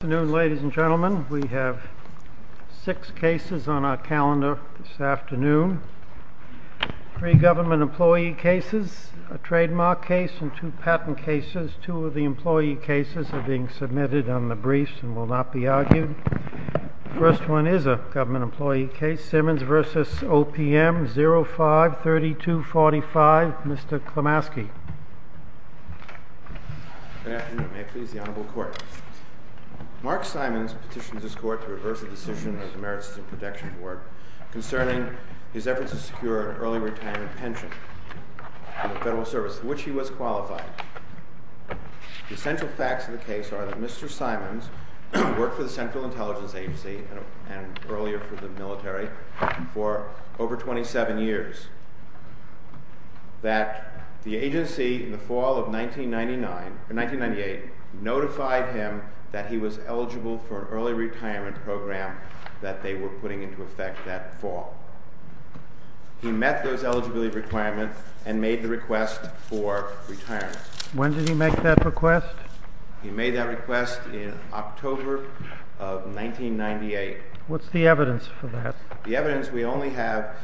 Good afternoon, ladies and gentlemen. We have six cases on our calendar this afternoon. Three government employee cases, a trademark case, and two patent cases. Two of the employee cases are being submitted on the briefs and will not be argued. The first one is a government employee case, Simons v. OPM, 05-3245, Mr. Klimaski. Good afternoon. May it please the Honorable Court. Mark Simons petitions this Court to reverse a decision of the Merit System Protection Board concerning his efforts to secure an early retirement pension from the Federal Service, to which he was qualified. The essential facts of the case are that Mr. Simons had worked for the Central Intelligence Agency and earlier for the military for over 27 years. The agency, in the fall of 1998, notified him that he was eligible for an early retirement program that they were putting into effect that fall. He met those eligibility requirements and made the request for retirement. When did he make that request? He made that request in October of 1998. What's the evidence for that? The evidence we only have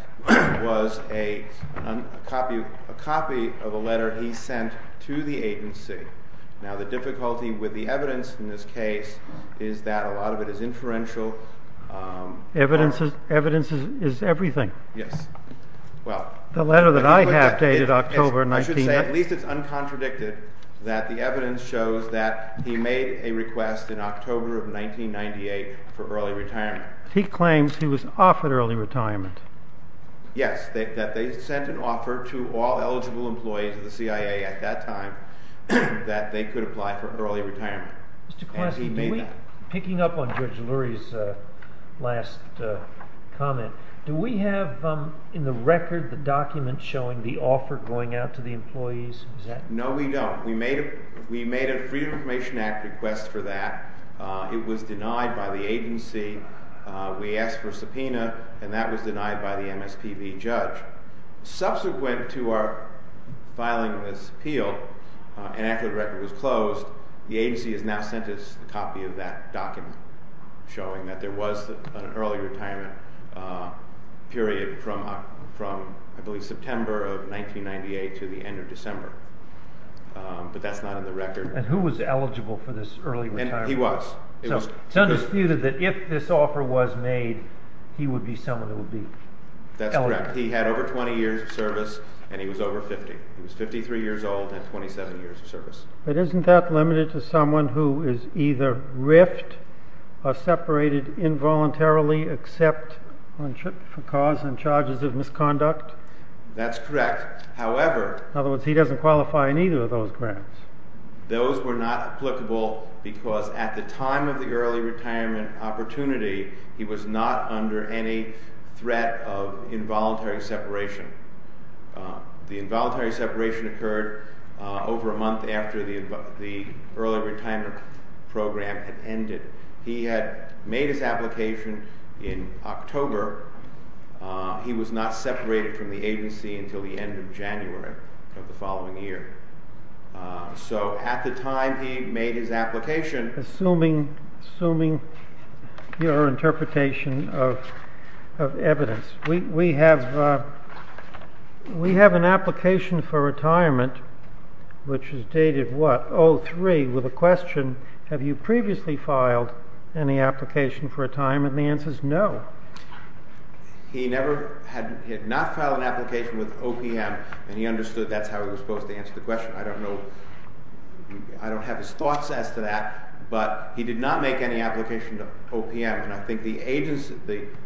was a copy of a letter he sent to the agency. Now, the difficulty with the evidence in this case is that a lot of it is inferential. Evidence is everything? Yes. The letter that I have dated October 1998. I should say, at least it's uncontradicted that the evidence shows that he made a request in October of 1998 for early retirement. He claims he was offered early retirement. Yes, that they sent an offer to all eligible employees of the CIA at that time that they could apply for early retirement. Mr. Classy, picking up on Judge Lurie's last comment, do we have in the record the document showing the offer going out to the employees? No, we don't. We made a Freedom of Information Act request for that. It was denied by the agency. We asked for a subpoena, and that was denied by the MSPB judge. Subsequent to our filing of this appeal, and after the record was closed, the agency has now sent us a copy of that document showing that there was an early retirement period from, I believe, September of 1998 to the end of December. But that's not in the record. And who was eligible for this early retirement? He was. It's undisputed that if this offer was made, he would be someone who would be eligible. That's correct. He had over 20 years of service, and he was over 50. He was 53 years old and had 27 years of service. But isn't that limited to someone who is either riffed or separated involuntarily except for cause and charges of misconduct? That's correct. However... In other words, he doesn't qualify in either of those grants. Those were not applicable because at the time of the early retirement opportunity, he was not under any threat of involuntary separation. The involuntary separation occurred over a month after the early retirement program had ended. He had made his application in October. He was not separated from the agency until the end of January of the following year. So at the time he made his application... Assuming your interpretation of evidence, we have an application for retirement which is dated what? With a question, have you previously filed any application for retirement? And the answer is no. He had not filed an application with OPM, and he understood that's how he was supposed to answer the question. I don't have his thoughts as to that, but he did not make any application to OPM. And I think the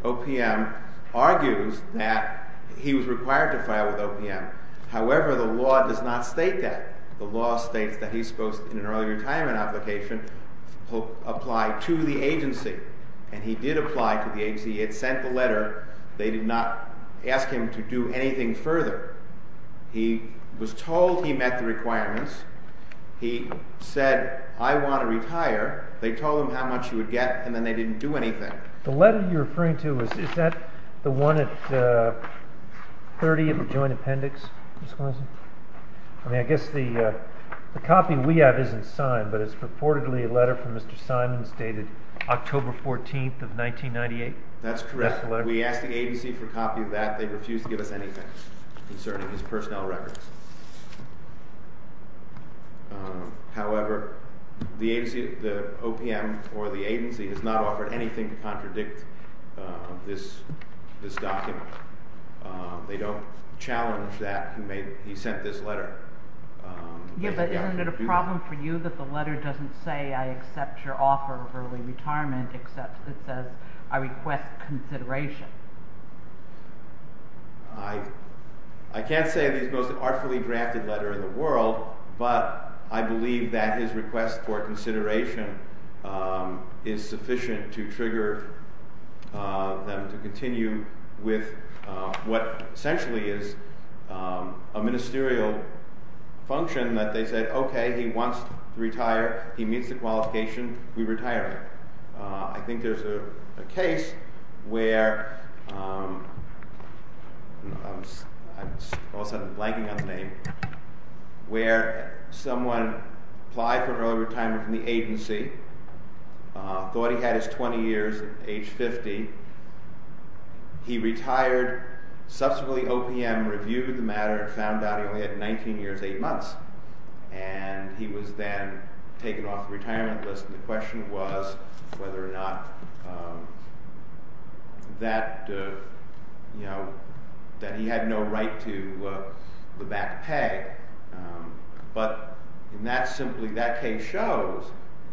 OPM argues that he was required to file with OPM. However, the law does not state that. The law states that he's supposed to, in an early retirement application, apply to the agency. And he did apply to the agency. He had sent the letter. They did not ask him to do anything further. He was told he met the requirements. He said, I want to retire. They told him how much he would get, and then they didn't do anything. The letter you're referring to, is that the one at 30 of the joint appendix? I mean, I guess the copy we have isn't signed, but it's purportedly a letter from Mr. Simons dated October 14th of 1998. That's correct. We asked the agency for a copy of that. They refused to give us anything concerning his personnel records. However, the OPM or the agency has not offered anything to contradict this document. They don't challenge that he sent this letter. Yeah, but isn't it a problem for you that the letter doesn't say, I accept your offer of early retirement, except it says, I request consideration? I can't say that it's the most artfully drafted letter in the world, but I believe that his request for consideration is sufficient to trigger them to continue with what essentially is a ministerial function, that they said, okay, he wants to retire. He meets the qualification. We retire him. I think there's a case where, I'm all of a sudden blanking on the name, where someone applied for early retirement from the agency, thought he had his 20 years, age 50. He retired. Subsequently, OPM reviewed the matter and found out he only had 19 years, 8 months, and he was then taken off the retirement list. The question was whether or not that he had no right to the back pay, but in that simply that case shows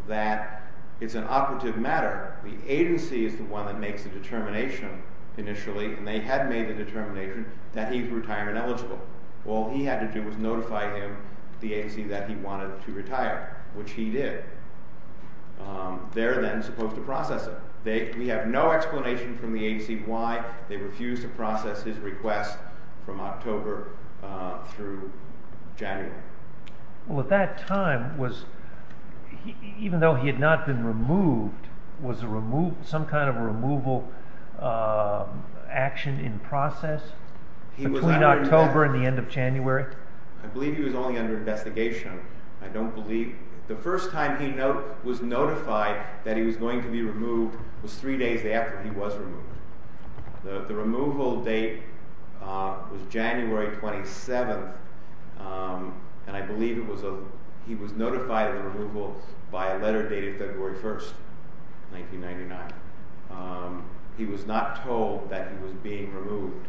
that it's an operative matter. The agency is the one that makes the determination initially, and they had made the determination that he's retirement eligible. All he had to do was notify him, the agency, that he wanted to retire, which he did. They're then supposed to process it. We have no explanation from the agency why they refused to process his request from October through January. At that time, even though he had not been removed, was some kind of a removal action in process between October and the end of January? I believe he was only under investigation. The first time he was notified that he was going to be removed was three days after he was removed. The removal date was January 27th, and I believe he was notified of the removal by a letter dated February 1st, 1999. He was not told that he was being removed,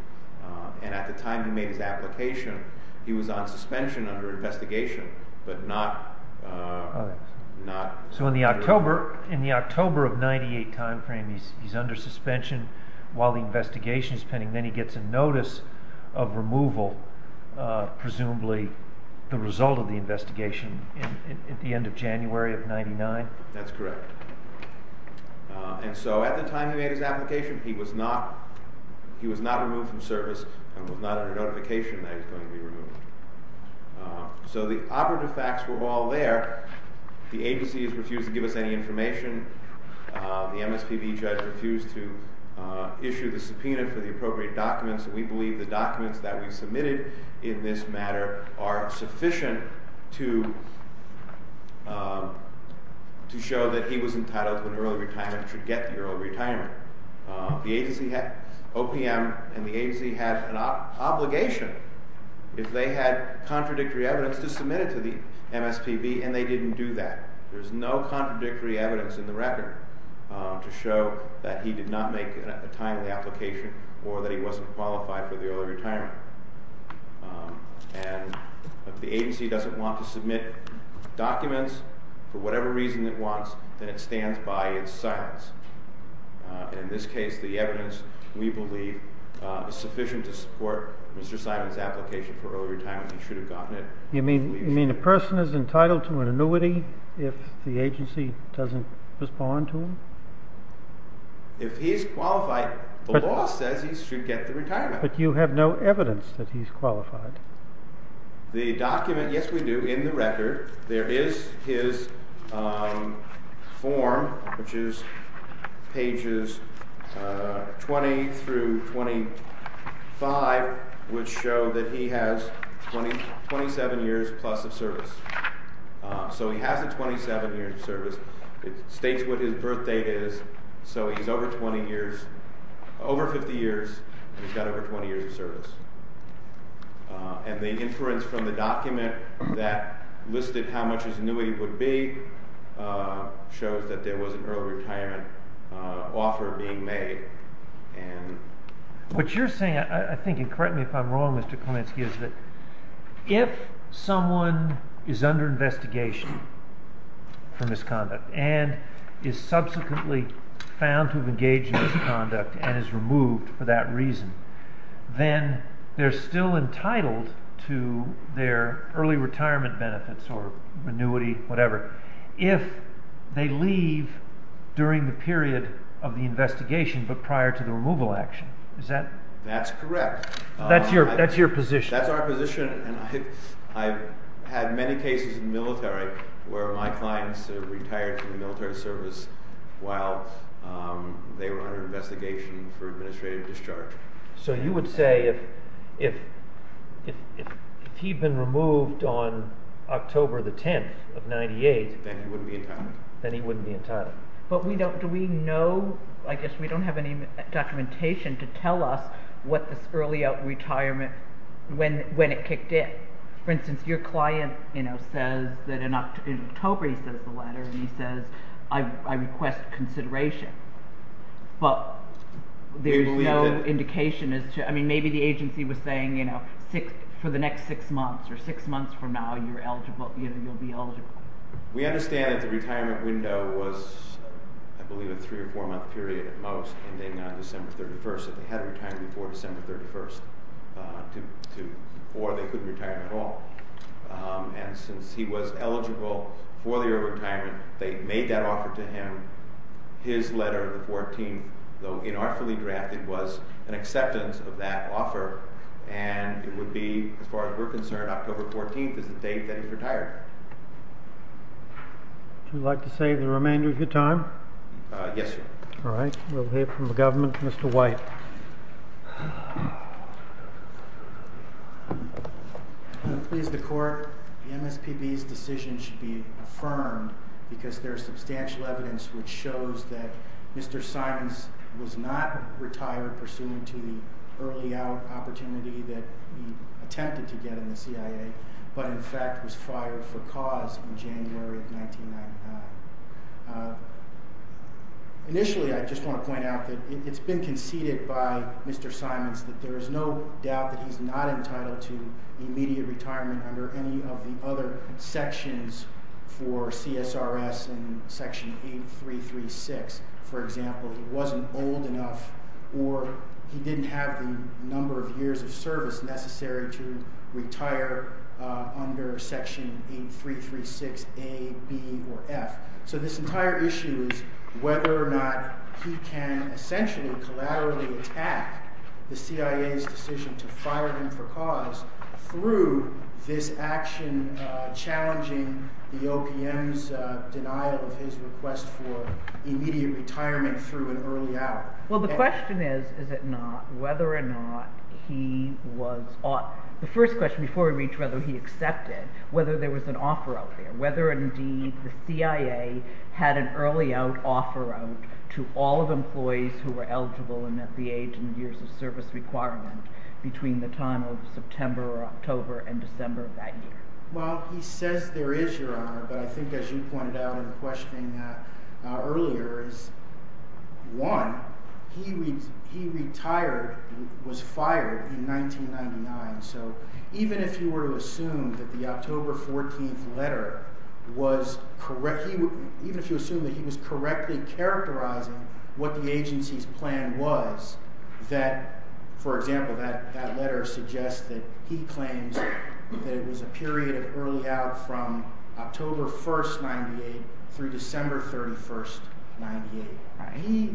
and at the time he made his application, he was on suspension under investigation, but not— So in the October of 1998 timeframe, he's under suspension while the investigation is pending. Then he gets a notice of removal, presumably the result of the investigation, at the end of January of 1999? That's correct. And so at the time he made his application, he was not removed from service and was not under notification that he was going to be removed. So the operative facts were all there. The agency has refused to give us any information. The MSPB judge refused to issue the subpoena for the appropriate documents. We believe the documents that we submitted in this matter are sufficient to show that he was entitled to an early retirement and should get the early retirement. The agency had—OPM and the agency had an obligation if they had contradictory evidence to submit it to the MSPB, and they didn't do that. There's no contradictory evidence in the record to show that he did not make a timely application or that he wasn't qualified for the early retirement. And if the agency doesn't want to submit documents for whatever reason it wants, then it stands by its silence. In this case, the evidence, we believe, is sufficient to support Mr. Simon's application for early retirement. He should have gotten it. You mean a person is entitled to an annuity if the agency doesn't respond to him? If he's qualified, the law says he should get the retirement. The document—yes, we do. In the record, there is his form, which is pages 20 through 25, which show that he has 27 years plus of service. So he has a 27-year service. It states what his birth date is, so he's over 20 years—over 50 years, and he's got over 20 years of service. And the inference from the document that listed how much his annuity would be shows that there was an early retirement offer being made. What you're saying, I think—and correct me if I'm wrong, Mr. Kulinski—is that if someone is under investigation for misconduct and is subsequently found to have engaged in misconduct and is removed for that reason, then they're still entitled to their early retirement benefits or annuity, whatever, if they leave during the period of the investigation but prior to the removal action. Is that—? That's correct. That's your position? That's our position, and I've had many cases in the military where my clients retired from the military service while they were under investigation for administrative discharge. So you would say if he'd been removed on October the 10th of 1998— Then he wouldn't be entitled. Then he wouldn't be entitled. But we don't—do we know—I guess we don't have any documentation to tell us what this early retirement—when it kicked in. For instance, your client says that in October, he sends the letter, and he says, I request consideration. But there's no indication as to—I mean, maybe the agency was saying for the next six months or six months from now, you're eligible—you'll be eligible. We understand that the retirement window was, I believe, a three- or four-month period at most, ending on December 31st. So they had to retire before December 31st or they couldn't retire at all. And since he was eligible for their retirement, they made that offer to him. His letter, the 14th, though inartfully drafted, was an acceptance of that offer, and it would be, as far as we're concerned, October 14th is the date that he's retired. Would you like to save the remainder of your time? Yes, sir. All right. We'll hear from the government. Mr. White. Please, the Court. The MSPB's decision should be affirmed because there is substantial evidence which shows that Mr. Simons was not retired pursuant to the early-out opportunity that he attempted to get in the CIA, but in fact was fired for cause in January of 1999. Initially, I just want to point out that it's been conceded by Mr. Simons that there is no doubt that he's not entitled to immediate retirement under any of the other sections for CSRS and Section 8336. For example, he wasn't old enough or he didn't have the number of years of service necessary to retire under Section 8336a, b, or f. So this entire issue is whether or not he can essentially collaterally attack the CIA's decision to fire him for cause through this action challenging the OPM's denial of his request for immediate retirement through an early-out. Well, the question is, is it not, whether or not he was – the first question before we reach whether he accepted, whether there was an offer out there, whether indeed the CIA had an early-out offer out to all of the employees who were eligible and at the age and years of service requirement between the time of September or October and December of that year. Well, he says there is, Your Honor, but I think as you pointed out in questioning that earlier, one, he retired and was fired in 1999. So even if you were to assume that the October 14th letter was – even if you assume that he was correctly characterizing what the agency's plan was that, for example, that letter suggests that he claims that it was a period of early-out from October 1st, 98 through December 31st, 98.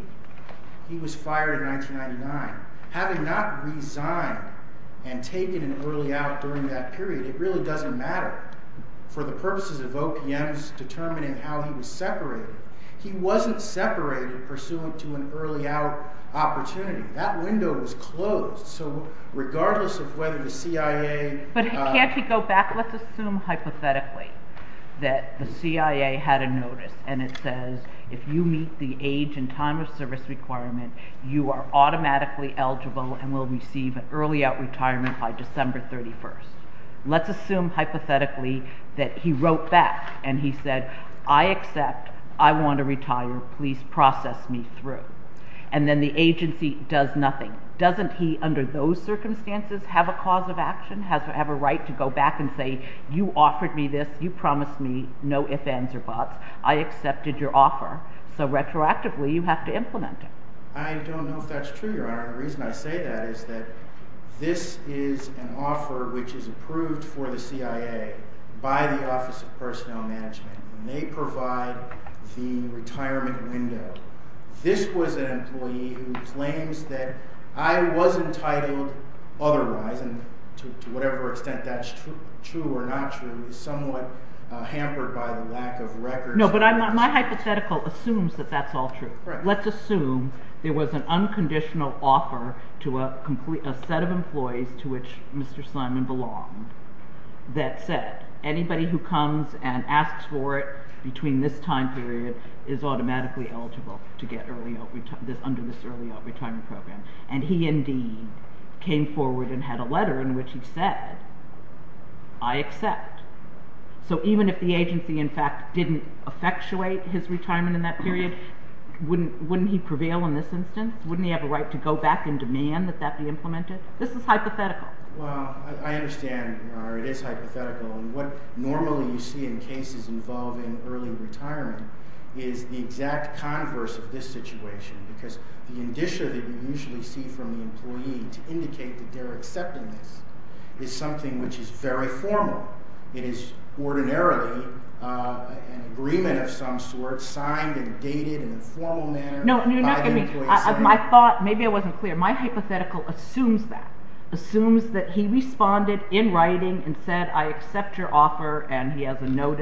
He was fired in 1999. Having not resigned and taken an early-out during that period, it really doesn't matter. For the purposes of OPM's determining how he was separated, he wasn't separated pursuant to an early-out opportunity. That window was closed. So regardless of whether the CIA – Let's assume hypothetically that the CIA had a notice and it says, if you meet the age and time of service requirement, you are automatically eligible and will receive an early-out retirement by December 31st. Let's assume hypothetically that he wrote back and he said, I accept. I want to retire. Please process me through. And then the agency does nothing. Doesn't he, under those circumstances, have a cause of action, have a right to go back and say, you offered me this, you promised me no ifs, ands, or buts. I accepted your offer. So retroactively, you have to implement it. I don't know if that's true, Your Honor. The reason I say that is that this is an offer which is approved for the CIA by the Office of Personnel Management. They provide the retirement window. This was an employee who claims that I was entitled otherwise, and to whatever extent that's true or not true is somewhat hampered by the lack of records. No, but my hypothetical assumes that that's all true. Let's assume there was an unconditional offer to a set of employees to which Mr. Simon belonged that said, anybody who comes and asks for it between this time period is automatically eligible to get under this early retirement program. And he indeed came forward and had a letter in which he said, I accept. So even if the agency, in fact, didn't effectuate his retirement in that period, wouldn't he prevail in this instance? Wouldn't he have a right to go back and demand that that be implemented? This is hypothetical. Well, I understand, Your Honor. It is hypothetical. And what normally you see in cases involving early retirement is the exact converse of this situation because the indicia that you usually see from the employee to indicate that they're accepting this is something which is very formal. It is ordinarily an agreement of some sort signed and dated in a formal manner by the employee. No, no, no, excuse me. My thought – maybe I wasn't clear. My hypothetical assumes that. Assumes that he responded in writing and said, I accept your offer, and he has a note.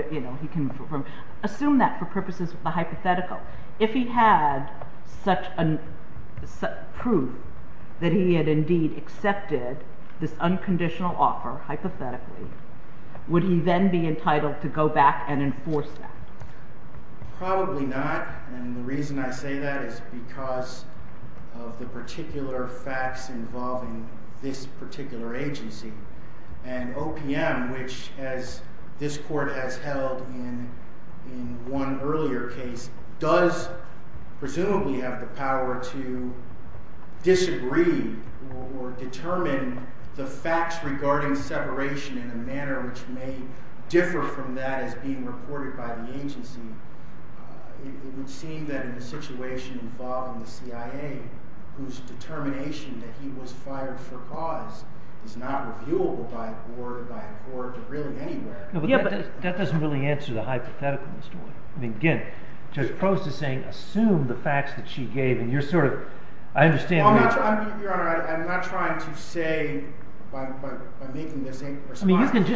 Assume that for purposes of the hypothetical. If he had such proof that he had indeed accepted this unconditional offer hypothetically, would he then be entitled to go back and enforce that? Probably not. And the reason I say that is because of the particular facts involving this particular agency. And OPM, which as this court has held in one earlier case, does presumably have the power to disagree or determine the facts regarding separation in a manner which may differ from that as being reported by the agency. It would seem that in the situation involving the CIA, whose determination that he was fired for cause is not reviewable by a board or really anywhere. Yeah, but that doesn't really answer the hypothetical, Mr. Wood. Again, Judge Prost is saying assume the facts that she gave, and you're sort of – I understand – Your Honor, I'm not trying to say by making this – I'm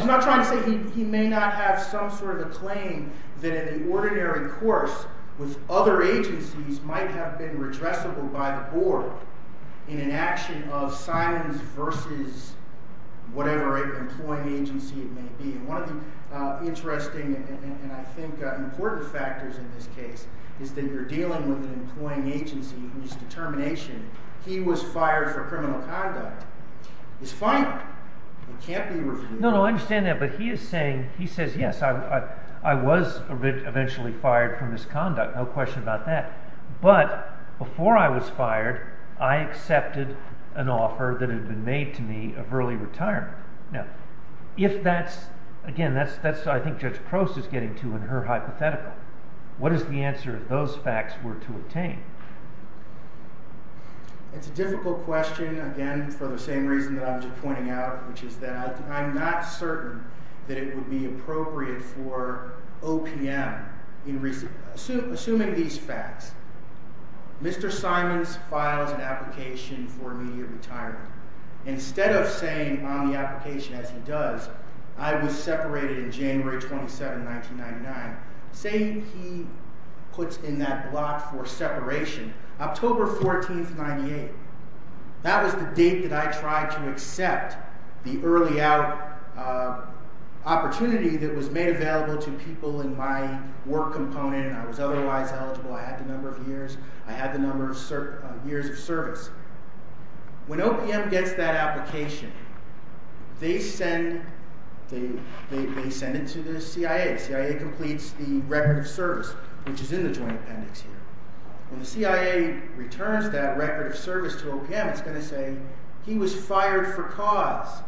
not trying to say he may not have some sort of a claim that in the ordinary course with other agencies might have been redressable by the board in an action of silence versus whatever employing agency it may be. And one of the interesting and I think important factors in this case is that you're dealing with an employing agency whose determination he was fired for criminal conduct is final. It can't be reviewed. No, no, I understand that, but he is saying – he says yes, I was eventually fired for misconduct, no question about that. But before I was fired, I accepted an offer that had been made to me of early retirement. Now, if that's – again, that's what I think Judge Prost is getting to in her hypothetical. What is the answer if those facts were to obtain? It's a difficult question, again, for the same reason that I'm just pointing out, which is that I'm not certain that it would be appropriate for OPM. Assuming these facts, Mr. Simons files an application for immediate retirement. Instead of saying on the application, as he does, I was separated in January 27, 1999, say he puts in that block for separation October 14, 1998. That was the date that I tried to accept the early out opportunity that was made available to people in my work component. I was otherwise eligible. I had the number of years. I had the number of years of service. When OPM gets that application, they send it to the CIA. The CIA completes the record of service, which is in the joint appendix here. When the CIA returns that record of service to OPM, it's going to say he was fired for cause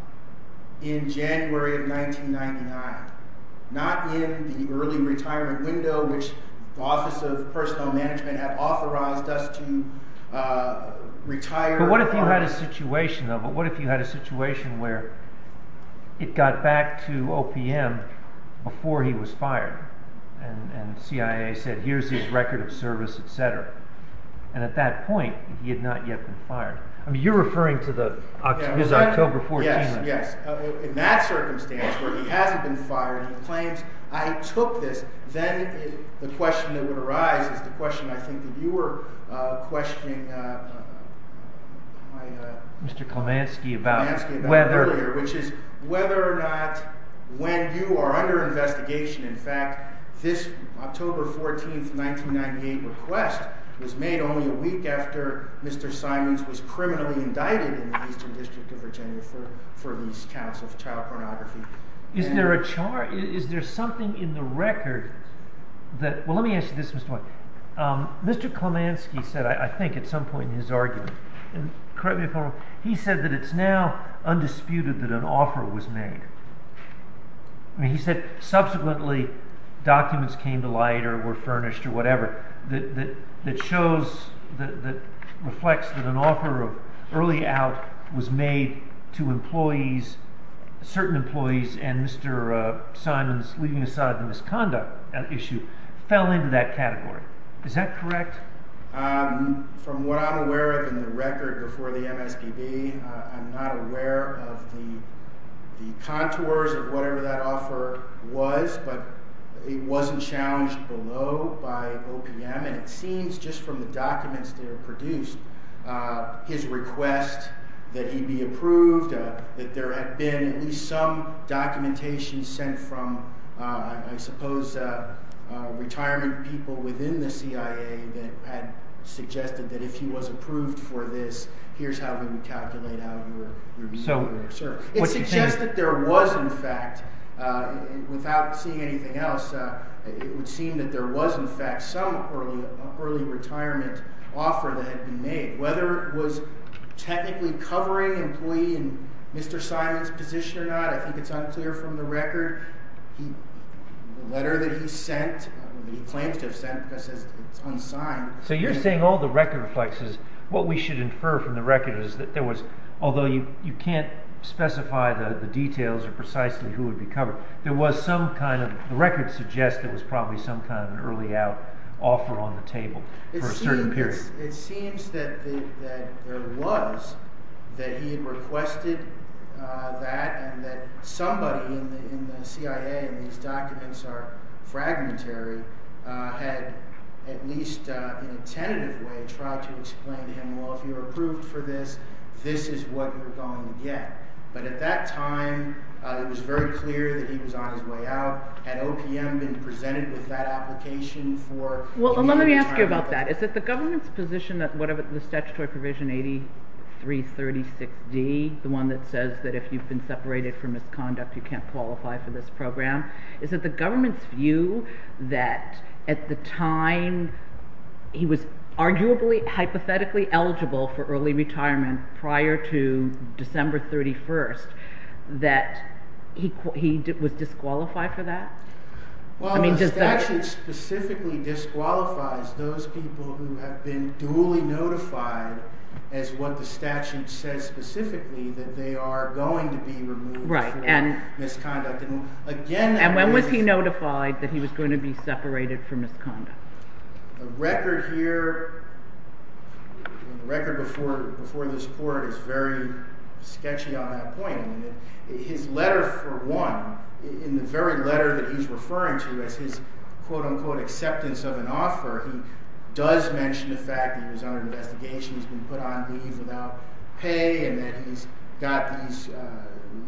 in January of 1999, not in the early retirement window, which the Office of Personal Management had authorized us to retire. But what if you had a situation where it got back to OPM before he was fired and CIA said, here's his record of service, etc. And at that point, he had not yet been fired. I mean, you're referring to his October 14th. Yes. In that circumstance, where he hasn't been fired, he claims, I took this. Then the question that would arise is the question I think that you were questioning, Mr. Klemanski, about earlier, which is whether or not when you are under investigation, in fact, this October 14, 1998 request was made only a week after Mr. Simons was criminally indicted in the Eastern District of Virginia for these counts of child pornography. Is there something in the record that, well, let me ask you this, Mr. White. Mr. Klemanski said, I think at some point in his argument, and correct me if I'm wrong, he said that it's now undisputed that an offer was made. He said subsequently documents came to light or were furnished or whatever that shows, that reflects that an offer of early out was made to employees, certain employees, and Mr. Simons, leaving aside the misconduct issue, fell into that category. Is that correct? From what I'm aware of in the record before the MSPB, I'm not aware of the contours of whatever that offer was, but it wasn't challenged below by OPM, and it seems just from the documents that are produced, his request that he be approved, that there had been at least some documentation sent from, I suppose, retirement people within the CIA that had suggested that if he was approved for this, here's how we would calculate how you would be served. It suggests that there was, in fact, without seeing anything else, it would seem that there was, in fact, some early retirement offer that had been made. Whether it was technically covering an employee in Mr. Simons' position or not, I think it's unclear from the record. The letter that he sent, he claims to have sent, because it's unsigned. So you're saying all the record reflects is, what we should infer from the record is that there was, although you can't specify the details or precisely who would be covered, there was some kind of, the record suggests there was probably some kind of an early out offer on the table for a certain period. It seems that there was, that he had requested that, and that somebody in the CIA, and these documents are fragmentary, had at least in a tentative way tried to explain to him, well, if you're approved for this, this is what you're going to get. But at that time, it was very clear that he was on his way out. Had OPM been presented with that application for… Well, let me ask you about that. Is it the government's position that the statutory provision 8336D, the one that says that if you've been separated for misconduct, you can't qualify for this program, is it the government's view that at the time he was arguably, hypothetically eligible for early retirement prior to December 31st, that he was disqualified for that? Well, the statute specifically disqualifies those people who have been duly notified as what the statute says specifically, that they are going to be removed from misconduct. And when was he notified that he was going to be separated for misconduct? The record here, the record before this court is very sketchy on that point. His letter for one, in the very letter that he's referring to as his quote-unquote acceptance of an offer, he does mention the fact that he was under investigation, he's been put on leave without pay, and that he's got these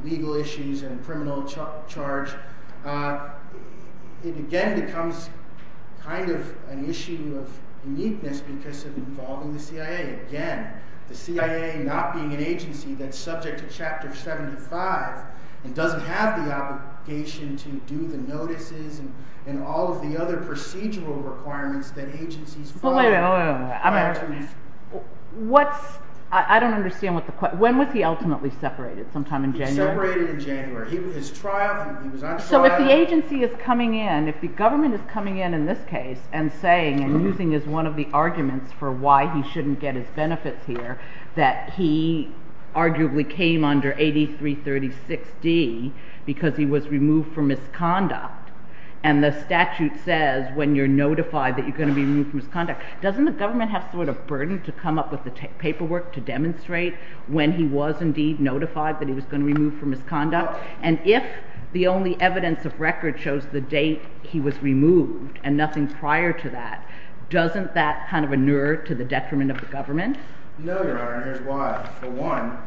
legal issues and criminal charge. It again becomes kind of an issue of uniqueness because of involving the CIA. Again, the CIA not being an agency that's subject to Chapter 75 and doesn't have the obligation to do the notices and all of the other procedural requirements that agencies… I don't understand. When was he ultimately separated? Sometime in January? He was separated in January. He was on trial. So if the agency is coming in, if the government is coming in in this case and saying, and using as one of the arguments for why he shouldn't get his benefits here, that he arguably came under 8336D because he was removed from misconduct, and the statute says when you're notified that you're going to be removed from misconduct, doesn't the government have sort of burden to come up with the paperwork to demonstrate when he was indeed notified that he was going to be removed from misconduct? And if the only evidence of record shows the date he was removed and nothing prior to that, doesn't that kind of inure to the detriment of the government? No, Your Honor, and here's why. For one,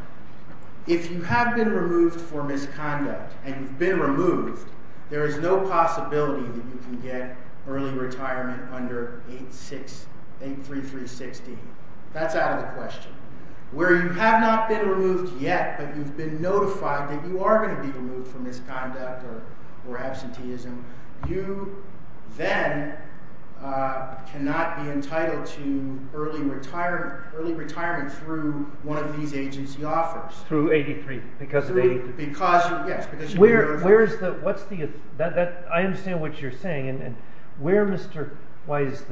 if you have been removed for misconduct and you've been removed, there is no possibility that you can get early retirement under 8336D. That's out of the question. Where you have not been removed yet, but you've been notified that you are going to be removed from misconduct or absenteeism, you then cannot be entitled to early retirement through one of these agency offers. Through 8336D because of 8336D? Yes, because you've been notified. I understand what you're saying. Where, Mr. Wise,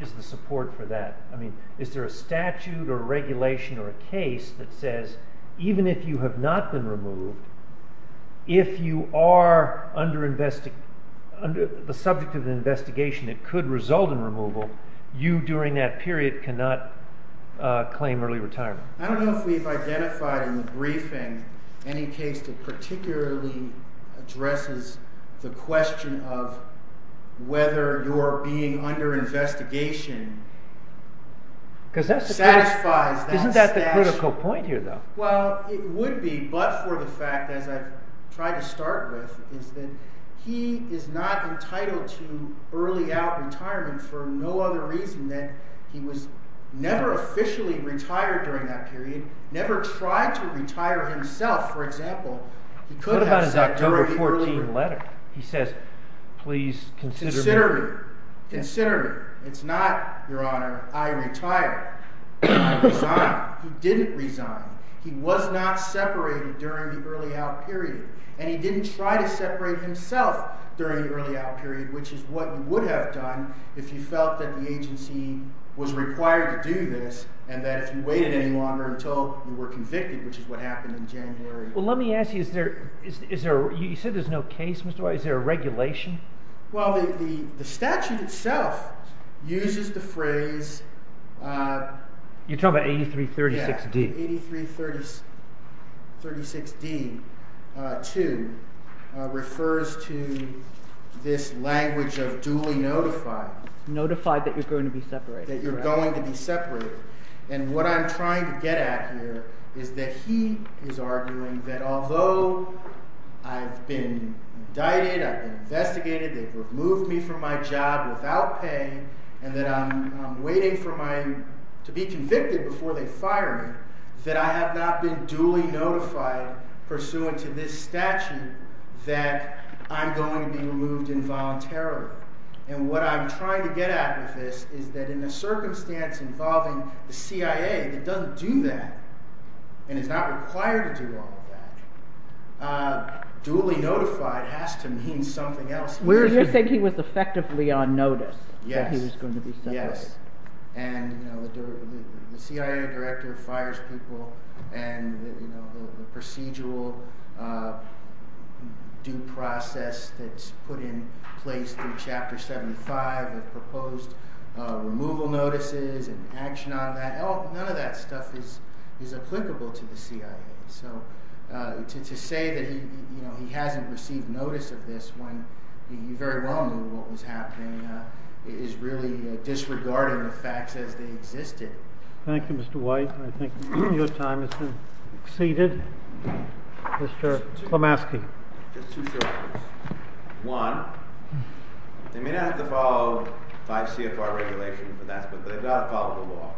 is the support for that? I mean, is there a statute or regulation or a case that says even if you have not been removed, if you are the subject of an investigation that could result in removal, you during that period cannot claim early retirement? I don't know if we've identified in the briefing any case that particularly addresses the question of whether your being under investigation satisfies that statute. Isn't that the critical point here, though? Well, it would be, but for the fact, as I've tried to start with, is that he is not entitled to early out retirement for no other reason than he was never officially retired during that period, never tried to retire himself, for example. What about his October 14 letter? He says, please consider me. Consider me. Consider me. It's not, Your Honor, I retire. I resign. He didn't resign. He was not separated during the early out period. And he didn't try to separate himself during the early out period, which is what you would have done if you felt that the agency was required to do this and that if you waited any longer until you were convicted, which is what happened in January. Well, let me ask you, you said there's no case, Mr. Wise. Is there a regulation? Well, the statute itself uses the phrase... You're talking about 8336D. 8336D, too, refers to this language of duly notified. Notified that you're going to be separated. That you're going to be separated. And what I'm trying to get at here is that he is arguing that although I've been indicted, I've been investigated, they've removed me from my job without pay, and that I'm waiting to be convicted before they fire me, that I have not been duly notified pursuant to this statute that I'm going to be removed involuntarily. And what I'm trying to get at with this is that in a circumstance involving the CIA that doesn't do that and is not required to do all of that, duly notified has to mean something else. So you're saying he was effectively on notice that he was going to be separated. Yes. And the CIA director fires people, and the procedural due process that's put in place through Chapter 75, the proposed removal notices and action on that, none of that stuff is applicable to the CIA. So to say that he hasn't received notice of this when he very well knew what was happening is really disregarding the facts as they existed. Thank you, Mr. White. I think your time has been exceeded. Mr. Klamaski. Just two short comments. One, they may not have to follow 5 CFR regulations for that, but they've got to follow the law.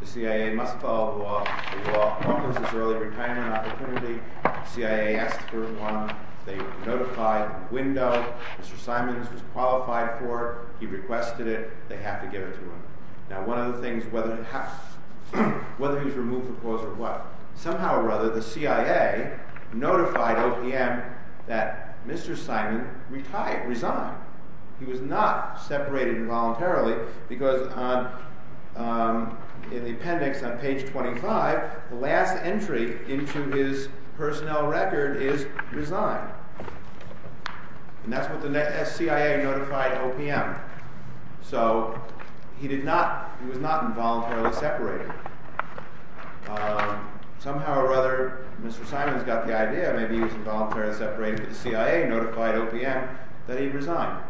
The CIA must follow the law. The law prompts this early retirement opportunity. The CIA asks for one. They notify the window. Mr. Simons was qualified for it. He requested it. They have to give it to him. Now, one of the things, whether he was removed for clause or what, somehow or other the CIA notified OPM that Mr. Simons resigned. He was not separated involuntarily because in the appendix on page 25, the last entry into his personnel record is resign. And that's what the CIA notified OPM. So he was not involuntarily separated. Somehow or other, Mr. Simons got the idea that maybe he was involuntarily separated. The CIA notified OPM that he resigned.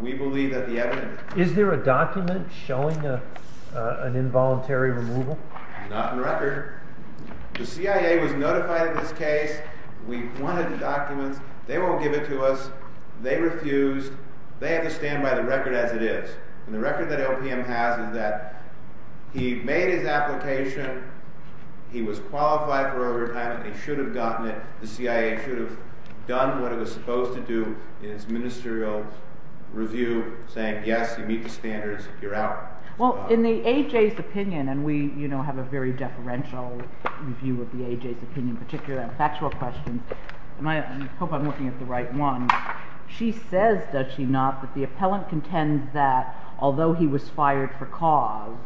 We believe that the evidence... Is there a document showing an involuntary removal? Not in record. The CIA was notified of this case. We wanted the documents. They won't give it to us. They refused. They have to stand by the record as it is. And the record that OPM has is that he made his application. He was qualified for early retirement. He should have gotten it. The CIA should have done what it was supposed to do in its ministerial review, saying, yes, you meet the standards. You're out. Well, in the A.J.'s opinion, and we have a very deferential view of the A.J.'s opinion, particularly on factual questions, and I hope I'm looking at the right one. She says, does she not, that the appellant contends that although he was fired for cause,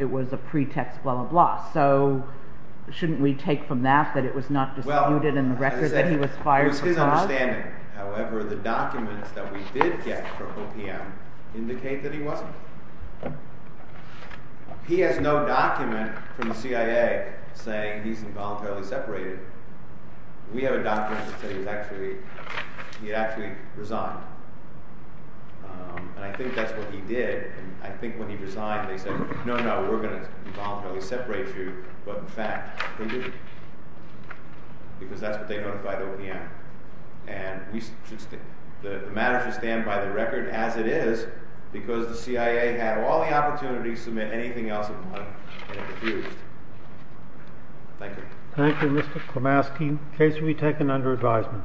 it was a pretext, blah, blah, blah. So shouldn't we take from that that it was not disputed in the record that he was fired for cause? It was his understanding. However, the documents that we did get from OPM indicate that he wasn't. He has no document from the CIA saying he's involuntarily separated. We have a document that says he actually resigned, and I think that's what he did. I think when he resigned, they said, no, no, we're going to involuntarily separate you. But in fact, they didn't, because that's what they notified OPM. And the matter should stand by the record as it is, because the CIA had all the opportunity to submit anything else it wanted, and it refused. Thank you. Thank you, Mr. Klimaski. The case will be taken under advisement.